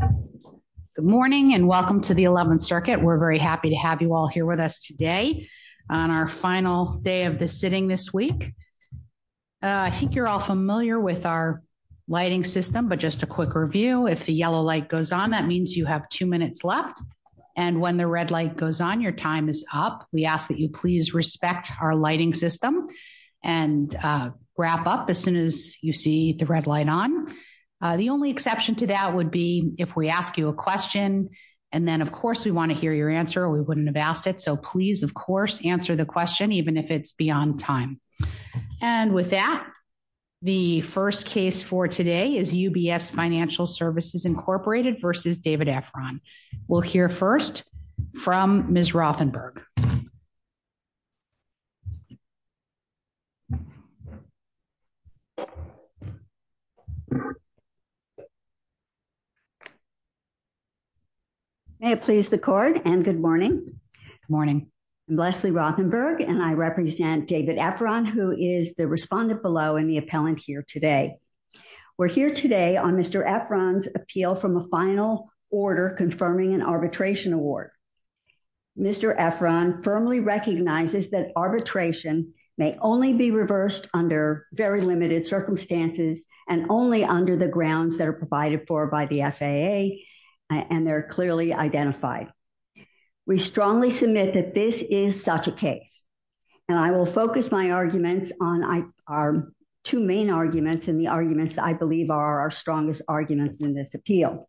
Good morning and welcome to the 11th Circuit. We're very happy to have you all here with us today on our final day of the sitting this week. I think you're all familiar with our lighting system, but just a quick review. If the yellow light goes on, that means you have two minutes left. And when the red light goes on, your time is up. We ask that you please respect our lighting system and wrap up as soon as you see the red light on. The only exception to that would be if we ask you a question. And then, of course, we want to hear your answer. We wouldn't have asked it. So please, of course, answer the question even if it's beyond time. And with that, the first case for today is UBS Financial Services, Incorporated v. David Efron. We'll hear first from Ms. Rothenberg. May it please the court and good morning. Good morning. I'm Leslie Rothenberg and I represent David Efron, who is the respondent below and the appellant here today. We're here today on Mr. Efron's appeal from a final order confirming an arbitration award. Mr. Efron firmly recognizes that arbitration may only be reversed under very limited circumstances and only under the grounds that are provided for by the FAA and they're clearly identified. We strongly submit that this is such a case. And I will focus my arguments on our two main arguments and the arguments I believe are our strongest arguments in this appeal.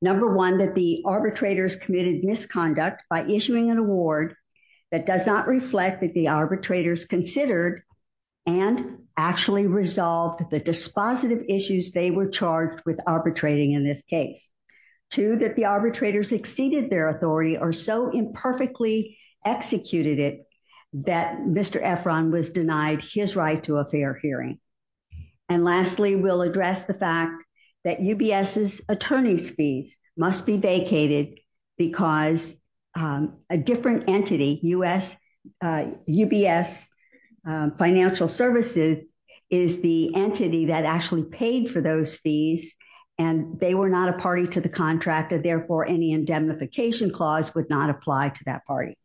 Number one, that the arbitrators committed misconduct by issuing an award that does not reflect that the arbitrators considered and actually resolved the dispositive issues they were charged with arbitrating in this case. Two, that the arbitrators exceeded their authority or so imperfectly executed it that Mr. Efron was denied his right to a fair hearing. And lastly, we'll address the fact that UBS's attorney's fees must be vacated because a different entity, UBS Financial Services, is the entity that actually paid for those fees and they were not a party to the contract and therefore any indemnification clause would not apply to that party.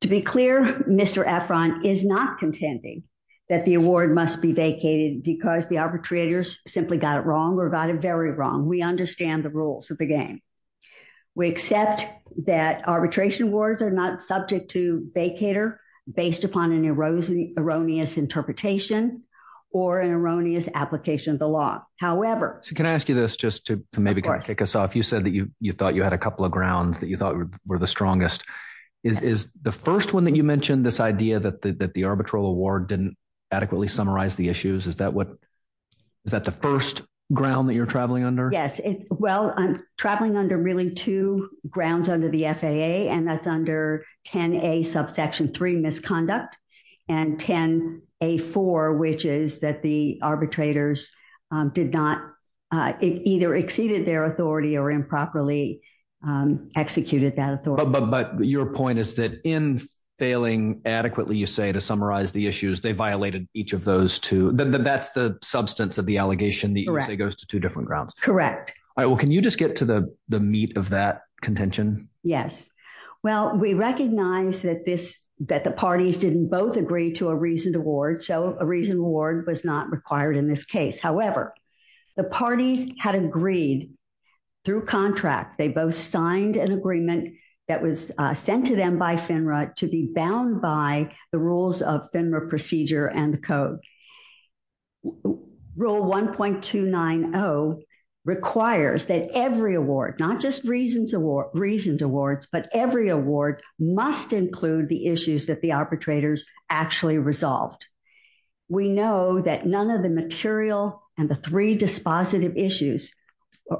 To be clear, Mr. Efron is not contending that the award must be vacated because the arbitrators simply got it wrong or got it very wrong. We understand the rules of the game. We accept that arbitration awards are not subject to vacator based upon an erroneous interpretation or an erroneous application of the law. However... So can I ask you this just to maybe kick us off? You said that you thought you had a couple of grounds that you thought were the strongest. Is the first one that you mentioned, this idea that the arbitral award didn't adequately summarize the issues, is that the first ground that you're traveling under? Yes. Well, I'm traveling under really two grounds under the FAA and that's under 10A subsection 3, misconduct, and 10A4, which is that the arbitrators did not either exceeded their authority or improperly executed that authority. But your point is that in failing adequately, you say, to summarize the issues, they violated each of those two. That's the substance of the allegation that you say goes to two different grounds. Correct. Well, can you just get to the meat of that contention? Yes. Well, we recognize that the parties didn't both agree to a reasoned award. So a reasoned award was not required in this case. However, the parties had agreed through contract. They both signed an agreement that was sent to them by FINRA to be bound by the rules of FINRA procedure and the code. Rule 1.290 requires that every award, not just reasoned awards, but every award must include the issues that the arbitrators actually resolved. We know that none of the material and the three dispositive issues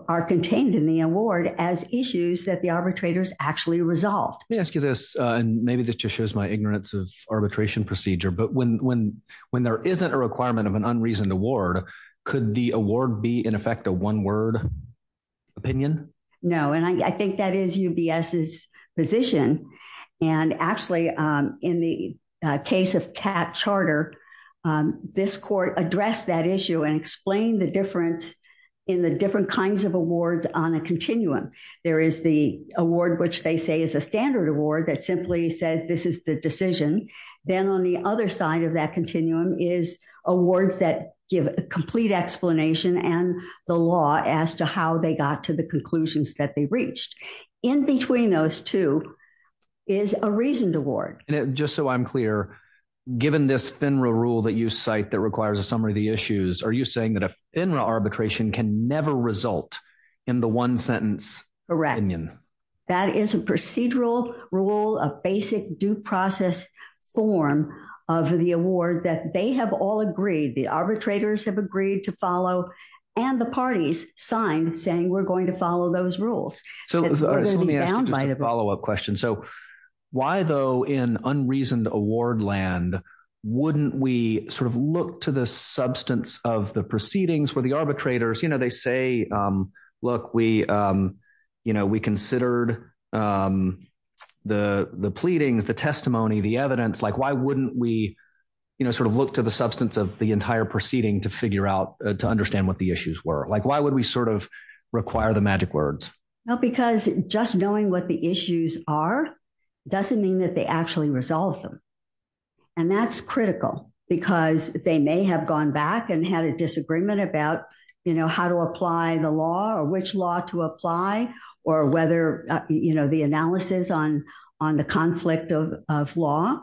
are contained in the award as issues that the arbitrators actually resolved. Let me ask you this, and maybe this just shows my ignorance of arbitration procedure, but when there isn't a requirement of an unreasoned award, could the award be, in effect, a one-word opinion? No. And I think that is UBS's position. And actually, in the case of Catt Charter, this court addressed that issue and explained the difference in the different kinds of awards on a continuum. There is the award, which they say is a standard award that simply says this is the decision. Then on the other side of that continuum is awards that give a complete explanation and the law as to how they got to the conclusions that they reached. In between those two is a reasoned award. And just so I'm clear, given this FINRA rule that you cite that requires a summary of the issues, are you saying that a FINRA arbitration can never result in the one-sentence opinion? That is a procedural rule, a basic due process form of the award that they have all agreed, the arbitrators have agreed to follow, and the parties signed saying we're going to follow those rules. So let me ask you just a follow-up question. So why, though, in unreasoned award land, wouldn't we sort of look to the substance of the proceedings where the arbitrators, you know, we considered the pleadings, the testimony, the evidence, like why wouldn't we, you know, sort of look to the substance of the entire proceeding to figure out, to understand what the issues were? Like why would we sort of require the magic words? Well, because just knowing what the issues are doesn't mean that they actually resolve them. And that's critical because they may have gone back and had a disagreement about, you know, how to apply the law or which law to apply or whether, you know, the analysis on the conflict of law,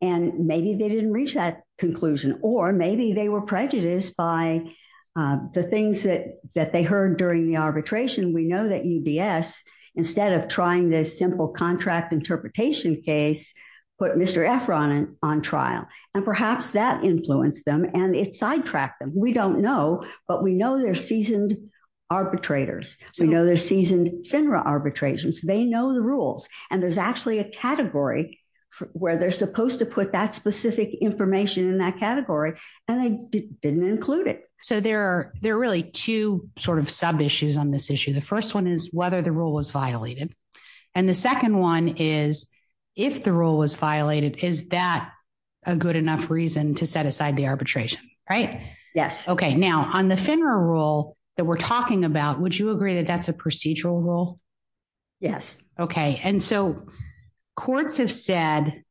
and maybe they didn't reach that conclusion, or maybe they were prejudiced by the things that they heard during the arbitration. We know that EBS, instead of trying this simple contract interpretation case, put Mr. Efron on trial, and perhaps that influenced them and it sidetracked them. We don't know, but we know they're seasoned arbitrators. So we know they're seasoned FINRA arbitrations. They know the rules. And there's actually a category where they're supposed to put that specific information in that category, and they didn't include it. So there are, there are really two sort of sub-issues on this issue. The first one is whether the rule was violated. And the second one is, if the rule was violated, is that a good enough reason to set aside the arbitration, right? Yes. Okay. Now, on the FINRA rule that we're talking about, would you agree that that's a procedural rule? Yes. Okay. And so courts have said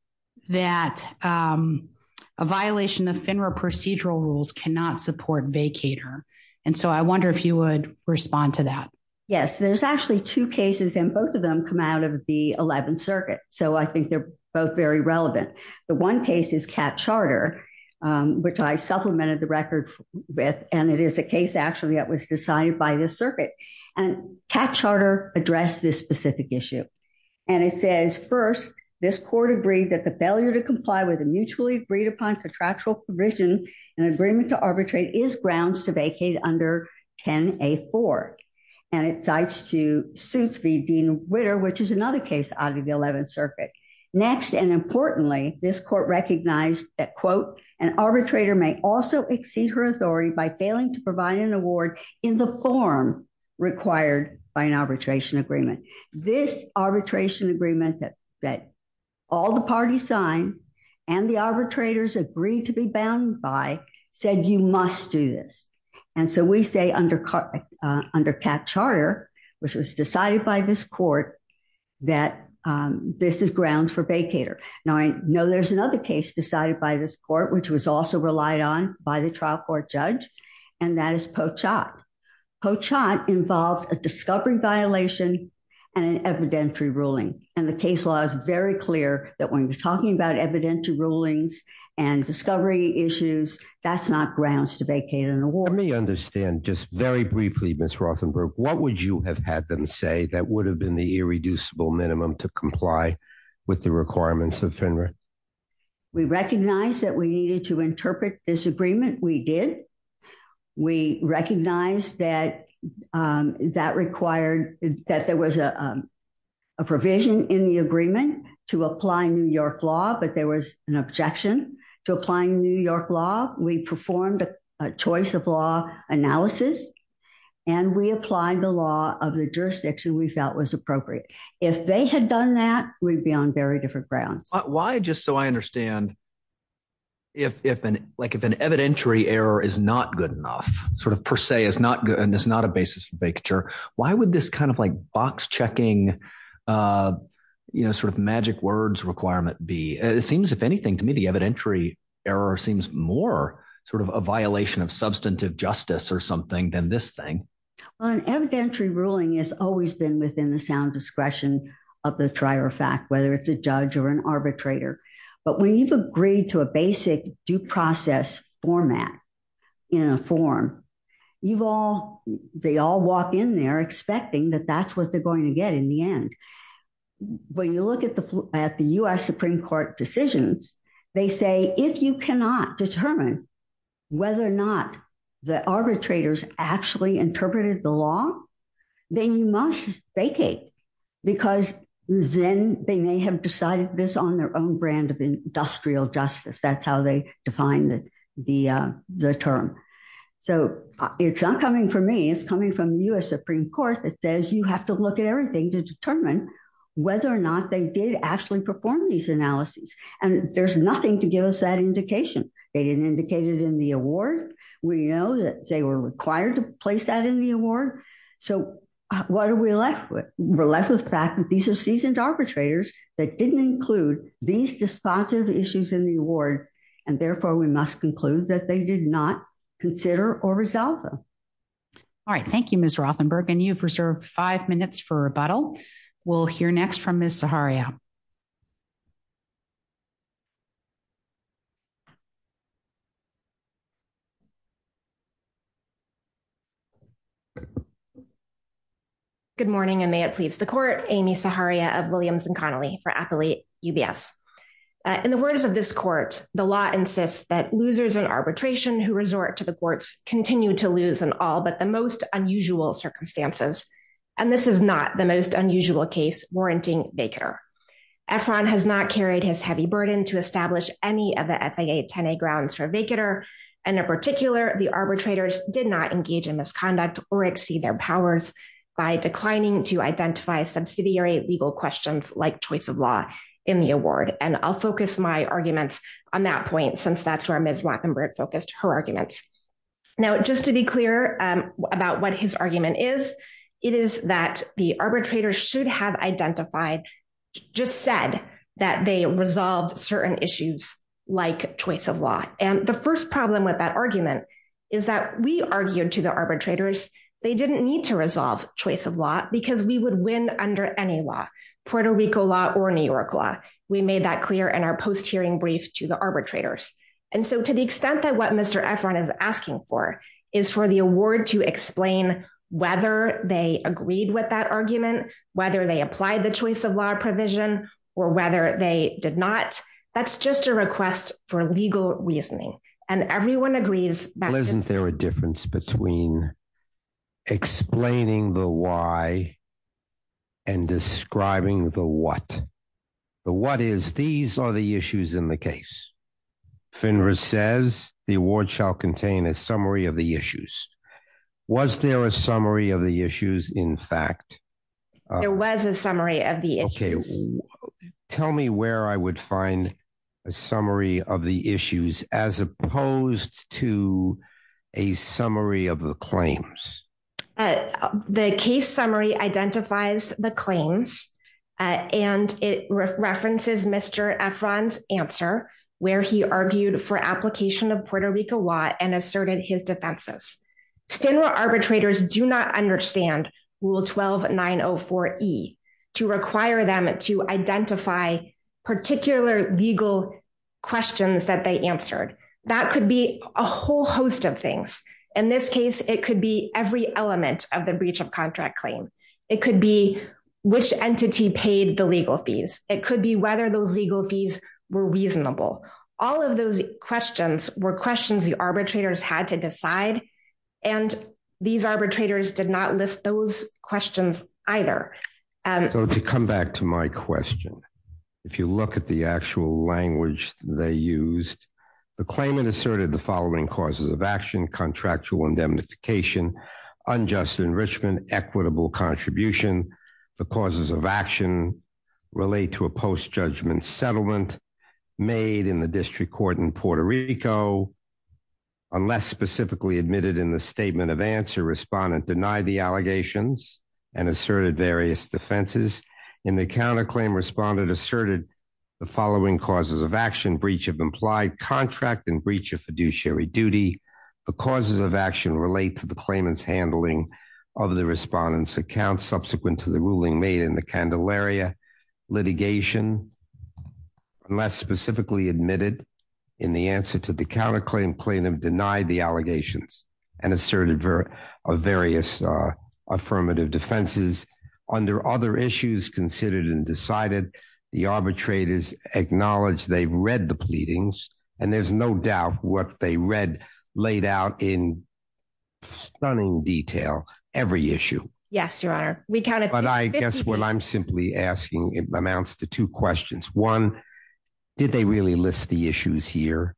that a violation of FINRA procedural rules cannot support vacater. And so I wonder if you would respond to that. Yes, there's actually two cases, and both of them come out of the 11th Circuit. So I think they're both very relevant. The one case is Catt Charter, which I supplemented the record with, and it is a case actually that was decided by this circuit. And Catt Charter addressed this specific issue. And it says, first, this court agreed that the failure to comply with a mutually agreed upon contractual provision and agreement to arbitrate is grounds to vacate under 10A4. And it cites to suits v. Dean Ritter, which is another case out of the 11th Circuit. Next, and importantly, this court recognized that, quote, an arbitrator may also exceed her authority by failing to provide an award in the form required by an arbitration agreement. This arbitration agreement that all the parties signed and the arbitrators agreed to be bound by said you must do this. And so we say under Catt Charter, which was decided by this court, that this is grounds for vacater. Now, I know there's another case decided by this court, which was also relied on by the trial court judge. And that is Pochott. Pochott involved a discovery violation and an evidentiary ruling. And the case law is very clear that when you're talking about evidentiary rulings and discovery issues, that's not grounds to vacate an award. Let me understand just very briefly, Ms. Rothenberg, what would you have had them say that would have been the irreducible minimum to comply with the requirements of FINRA? We recognize that we needed to interpret this agreement. We did. We recognize that that required that there was a provision in the agreement to apply New York law. But there was an objection to applying New York law. We performed a choice of law analysis. And we applied the law of the jurisdiction we felt was appropriate. If they had done that, we'd be on very different grounds. Why, just so I understand, if an evidentiary error is not good enough, sort of per se is not good, and it's not a basis for vacature, why would this kind of like box checking, you know, sort of magic words requirement be? It seems, if anything, to me, the evidentiary error seems more sort of a violation of substantive justice or something than this thing. Well, an evidentiary ruling has always been within the sound discretion of the trier of fact, whether it's a judge or an arbitrator. But when you've agreed to a basic due process format in a form, they all walk in there expecting that that's what they're going to get in the end. When you look at the U.S. Supreme Court decisions, they say, if you cannot determine whether or not the arbitrators actually interpreted the law, then you must vacate. Because then they may have decided this on their own brand of industrial justice. That's how they define the term. So it's not coming from me. It's coming from U.S. Supreme Court that says you have to look at everything to determine whether or not they did actually perform these analyses. And there's nothing to give us that indication. They didn't indicate it in the award. We know that they were required to place that in the award. So what are we left with? We're left with the fact that these are seasoned arbitrators that didn't include these responsive issues in the award. And therefore, we must conclude that they did not consider or resolve them. All right. Thank you, Ms. Rothenberg. And you've reserved five minutes for rebuttal. We'll hear next from Ms. Zaharia. Good morning, and may it please the court. Amy Zaharia of Williams & Connolly for Appalachia UBS. In the words of this court, the law insists that losers in arbitration who resort to the courts continue to lose in all but the most unusual circumstances. And this is not the most unusual case warranting vacar. Efron has not carried his heavy burden to establish any of the FIA 10A grounds for vacar. And in particular, the arbitrators did not engage in misconduct or exceed their powers by declining to identify subsidiary legal questions like choice of law in the award. And I'll focus my arguments on that point since that's where Ms. Rothenberg focused her arguments. Now, just to be clear about what his argument is, it is that the arbitrators should have identified, just said that they resolved certain issues like choice of law. And the first problem with that argument is that we argued to the arbitrators, they didn't need to resolve choice of law because we would win under any law, Puerto Rico law or New York law. We made that clear in our post-hearing brief to the arbitrators. And so to the extent that what Mr. Efron is asking for is for the award to explain whether they agreed with that argument, whether they applied the choice of law provision or whether they did not, that's just a request for legal reasoning. And everyone agrees. Well, isn't there a difference between explaining the why and describing the what? The what is these are the issues in the case. FINRA says the award shall contain a summary of the issues. Was there a summary of the issues? In fact, there was a summary of the issues. Tell me where I would find a summary of the issues as opposed to a summary of the claims. The case summary identifies the claims and it references Mr. Efron's answer. He argued for application of Puerto Rico law and asserted his defenses. FINRA arbitrators do not understand rule 12904E to require them to identify particular legal questions that they answered. That could be a whole host of things. In this case, it could be every element of the breach of contract claim. It could be which entity paid the legal fees. It could be whether those legal fees were reasonable. All of those questions were questions the arbitrators had to decide. And these arbitrators did not list those questions either. So to come back to my question, if you look at the actual language they used, the claimant asserted the following causes of action, contractual indemnification, unjust enrichment, equitable contribution. The causes of action relate to a post-judgment settlement made in the district court in Puerto Rico. Unless specifically admitted in the statement of answer, respondent denied the allegations and asserted various defenses. In the counterclaim, respondent asserted the following causes of action, breach of implied contract and breach of fiduciary duty. The causes of action relate to the claimant's handling of the respondent's account subsequent to the ruling made in the Candelaria litigation. Unless specifically admitted in the answer to the counterclaim, plaintiff denied the allegations and asserted various affirmative defenses. Under other issues considered and decided, the arbitrators acknowledged they've read the pleadings. And there's no doubt what they read, laid out in stunning detail, every issue. Yes, your honor, we counted. But I guess what I'm simply asking amounts to two questions. One, did they really list the issues here?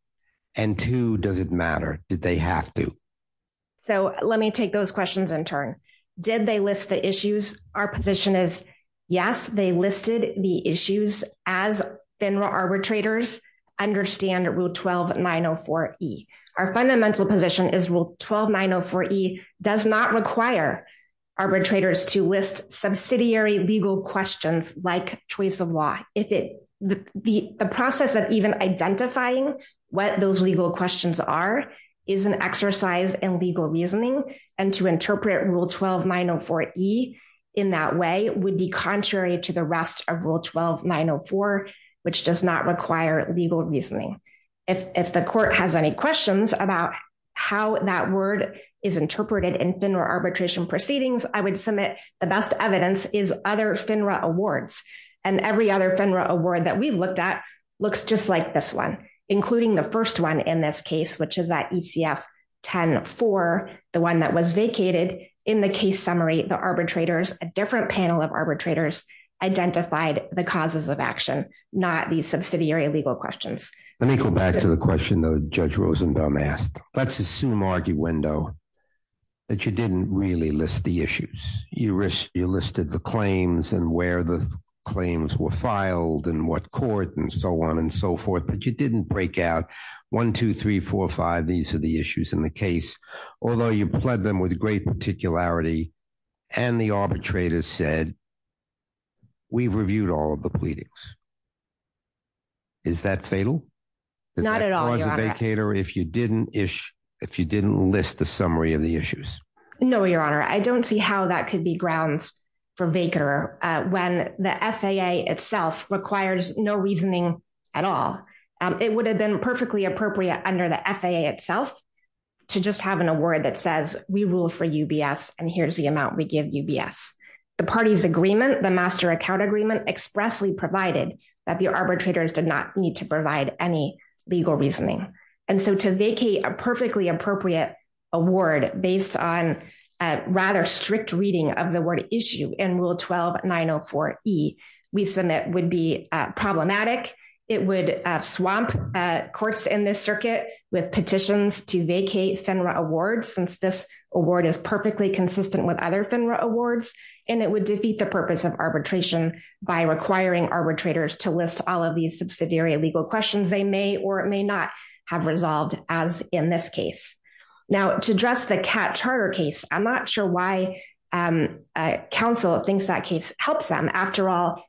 And two, does it matter? Did they have to? So let me take those questions in turn. Did they list the issues? Our position is, yes, they listed the issues. As arbitrators understand rule 12-904-E. Our fundamental position is rule 12-904-E does not require arbitrators to list subsidiary legal questions like choice of law. The process of even identifying what those legal questions are is an exercise in legal reasoning. And to interpret rule 12-904-E in that way would be contrary to the rest of rule 12-904, which does not require legal reasoning. If the court has any questions about how that word is interpreted in FINRA arbitration proceedings, I would submit the best evidence is other FINRA awards. And every other FINRA award that we've looked at looks just like this one, including the first one in this case, which is that ECF-10-4, the one that was vacated. In the case summary, the arbitrators, a different panel of arbitrators, identified the causes of action, not the subsidiary legal questions. Let me go back to the question that Judge Rosenthal asked. Let's assume, arguendo, that you didn't really list the issues. You listed the claims and where the claims were filed and what court and so on and so forth. But you didn't break out 1, 2, 3, 4, 5. These are the issues in the case. Although you pled them with great particularity and the arbitrators said, we've reviewed all of the pleadings. Is that fatal? Not at all, Your Honor. Does that cause a vacater if you didn't list the summary of the issues? No, Your Honor. I don't see how that could be grounds for vacater when the FAA itself requires no reasoning at all. It would have been perfectly appropriate under the FAA itself to just have an award that says, we rule for UBS and here's the amount we give UBS. The party's agreement, the master account agreement, expressly provided that the arbitrators did not need to provide any legal reasoning. And so to vacate a perfectly appropriate award based on a rather strict reading of the word issue in Rule 12-904E, we submit would be problematic. It would swamp courts in this circuit with petitions to vacate FINRA awards since this award is perfectly consistent with other FINRA awards. And it would defeat the purpose of arbitration by requiring arbitrators to list all of these subsidiary legal questions they may or may not have resolved as in this case. Now to address the Cat Charter case, I'm not sure why counsel thinks that case helps them. After all,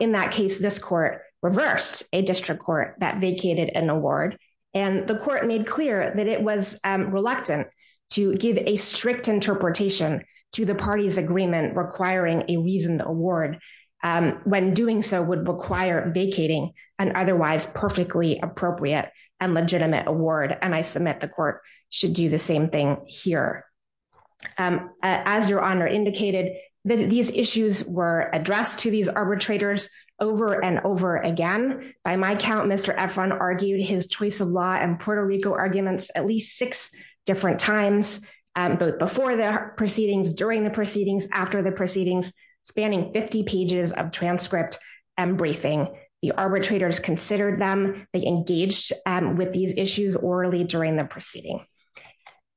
in that case, this court reversed a district court that vacated an award. And the court made clear that it was reluctant to give a strict interpretation to the party's agreement requiring a reasoned award when doing so would require vacating an otherwise perfectly appropriate and legitimate award. And I submit the court should do the same thing here. And as your honor indicated, these issues were addressed to these arbitrators over and over again. By my count, Mr. Efron argued his choice of law and Puerto Rico arguments at least six different times, before the proceedings, during the proceedings, after the proceedings, spanning 50 pages of transcript and briefing. The arbitrators considered them, they engaged with these issues orally during the proceeding.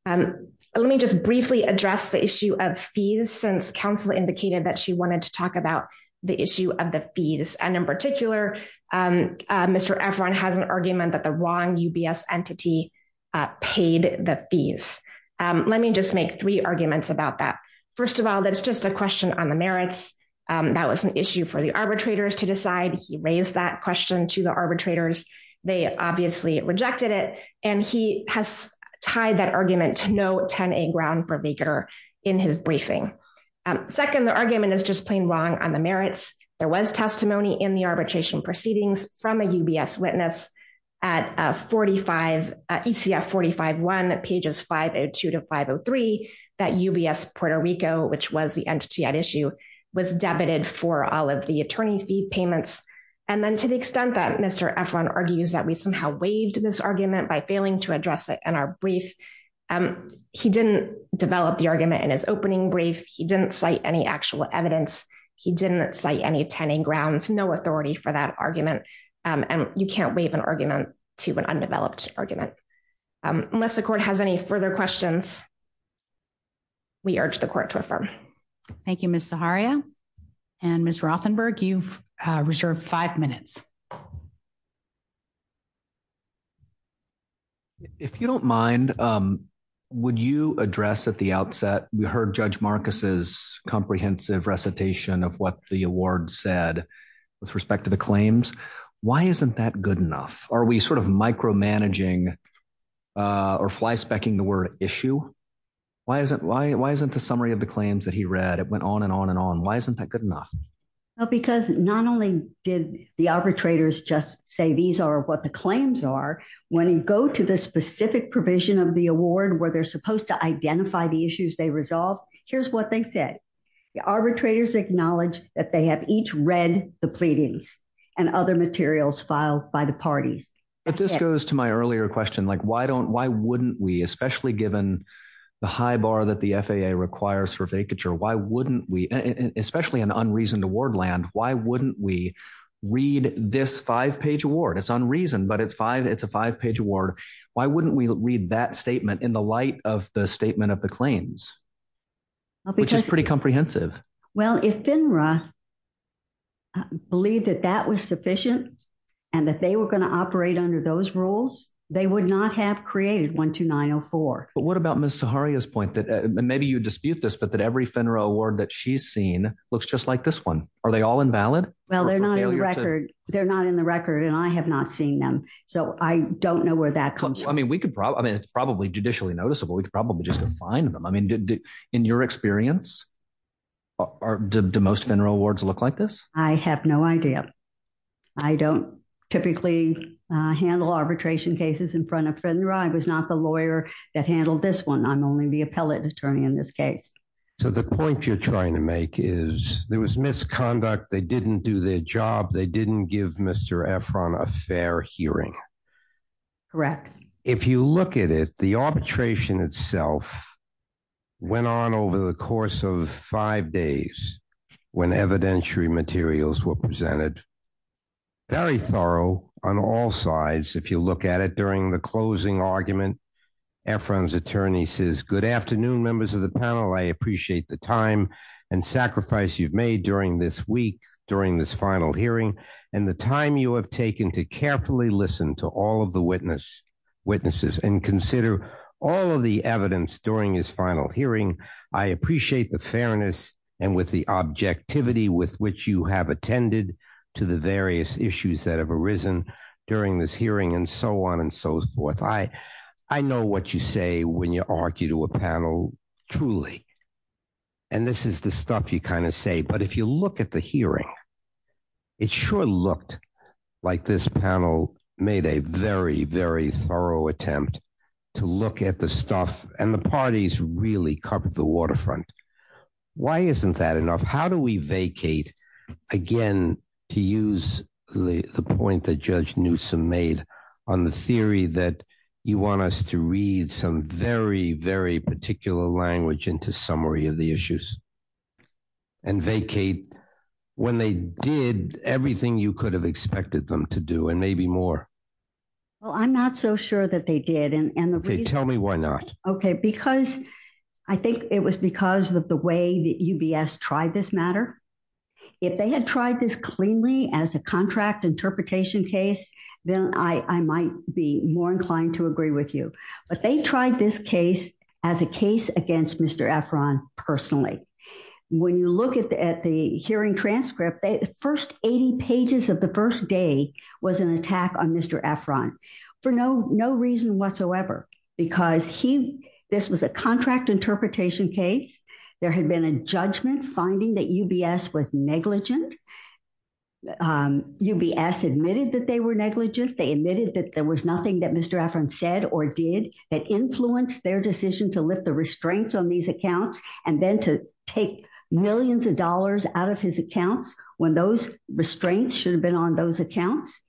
And let me just briefly address the issue of fees since counsel indicated that she wanted to talk about the issue of the fees. And in particular, Mr. Efron has an argument that the wrong UBS entity paid the fees. Let me just make three arguments about that. First of all, that's just a question on the merits. That was an issue for the arbitrators to decide. He raised that question to the arbitrators. They obviously rejected it. And he has tied that argument to no 10A ground for vigor in his briefing. Second, the argument is just plain wrong on the merits. There was testimony in the arbitration proceedings from a UBS witness at ECF 45.1, pages 502 to 503, that UBS Puerto Rico, which was the entity at issue, was debited for all of the attorney's fee payments. And then to the extent that Mr. Efron argues that we somehow waived this argument by failing to address it in our brief, he didn't develop the argument in his opening brief. He didn't cite any actual evidence. He didn't cite any 10A grounds, no authority for that argument. And you can't waive an argument to an undeveloped argument. Unless the court has any further questions, we urge the court to affirm. Thank you, Ms. Zaharia. And Ms. Rothenberg, you've reserved five minutes. If you don't mind, would you address at the outset, we heard Judge Marcus's comprehensive recitation of what the award said with respect to the claims. Why isn't that good enough? Are we sort of micromanaging or flyspecking the word issue? Why isn't the summary of the claims that he read? It went on and on and on. Why isn't that good enough? Because not only did the arbitrators just say these are what the claims are, when you go to the specific provision of the award where they're supposed to identify the issues they resolve, here's what they said. Arbitrators acknowledge that they have each read the pleadings and other materials filed by the parties. If this goes to my earlier question, like why wouldn't we, especially given the high bar that the FAA requires for vacature, why wouldn't we, especially in unreasoned award land, why wouldn't we read this five-page award? It's unreasoned, but it's a five-page award. Why wouldn't we read that statement in the light of the statement of the claims? Which is pretty comprehensive. Well, if FINRA believed that that was sufficient and that they were going to operate under those rules, they would not have created 12904. But what about Ms. Zaharia's point that, maybe you dispute this, but that every FINRA award that she's seen looks just like this one. Are they all invalid? Well, they're not in the record and I have not seen them. So I don't know where that comes from. I mean, it's probably judicially noticeable. We could probably just go find them. I mean, in your experience, do most FINRA awards look like this? I have no idea. I don't typically handle arbitration cases in front of FINRA. I was not the lawyer that handled this one. I'm only the appellate attorney in this case. So the point you're trying to make is there was misconduct. They didn't do their job. They didn't give Mr. Efron a fair hearing. Correct. If you look at it, the arbitration itself went on over the course of five days when evidentiary materials were presented. Very thorough on all sides. If you look at it during the closing argument, Efron's attorney says, good afternoon, members of the panel. I appreciate the time and sacrifice you've made during this week, during this final hearing, and the time you have taken to carefully listen to all of the witnesses and consider all of the evidence during his final hearing. I appreciate the fairness and with the objectivity with which you have attended to the various issues that have arisen during this hearing and so on and so forth. I know what you say when you argue to a panel, truly. And this is the stuff you kind of say. But if you look at the hearing, it sure looked like this panel made a very, very thorough attempt to look at the stuff. And the parties really covered the waterfront. Why isn't that enough? How do we vacate, again, to use the point that Judge Newsom made on the theory that you want us to read some very, very particular language into summary of the issues and vacate when they did everything you could have expected them to do and maybe more? Well, I'm not so sure that they did. And the reason... Tell me why not. Because I think it was because of the way that UBS tried this matter. If they had tried this cleanly as a contract interpretation case, then I might be more inclined to agree with you. But they tried this case as a case against Mr. Efron personally. When you look at the hearing transcript, the first 80 pages of the first day was an attack on Mr. Efron for no reason whatsoever. Because this was a contract interpretation case. There had been a judgment finding that UBS was negligent. UBS admitted that they were negligent. They admitted that there was nothing that Mr. Efron said or did that influenced their decision to lift the restraints on these accounts and then to take millions of dollars out of his accounts when those restraints should have been on those accounts.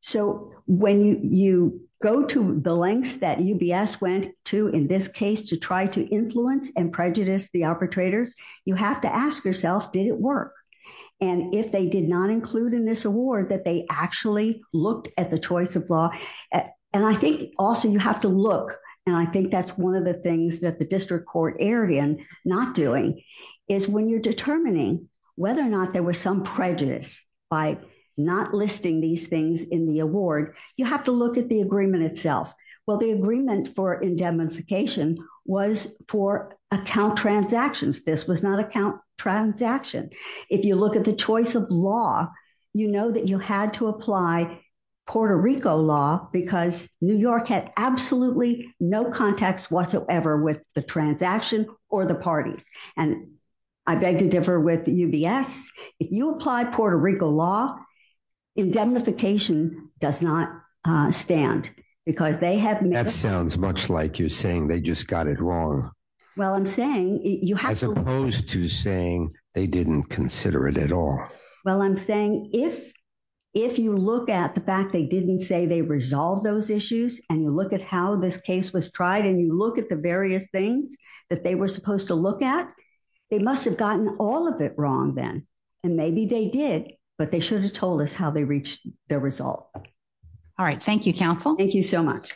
So when you go to the lengths that UBS went to in this case to try to influence and prejudice the arbitrators, you have to ask yourself, did it work? And if they did not include in this award that they actually looked at the choice of law. And I think also you have to look. And I think that's one of the things that the district court area not doing is when you're determining whether or not there was some prejudice by not listing these things in the award, you have to look at the agreement itself. Well, the agreement for indemnification was for account transactions. This was not account transaction. If you look at the choice of law, you know that you had to apply Puerto Rico law because New York had absolutely no context whatsoever with the transaction or the parties. And I beg to differ with UBS. If you apply Puerto Rico law, indemnification does not stand because they have. That sounds much like you're saying they just got it wrong. Well, I'm saying you have. As opposed to saying they didn't consider it at all. Well, I'm saying if if you look at the fact they didn't say they resolve those issues and you look at how this case was tried and you look at the various things that they were supposed to look at, they must have gotten all of it wrong then. And maybe they did, but they should have told us how they reached the result. All right. Thank you, counsel. Thank you so much.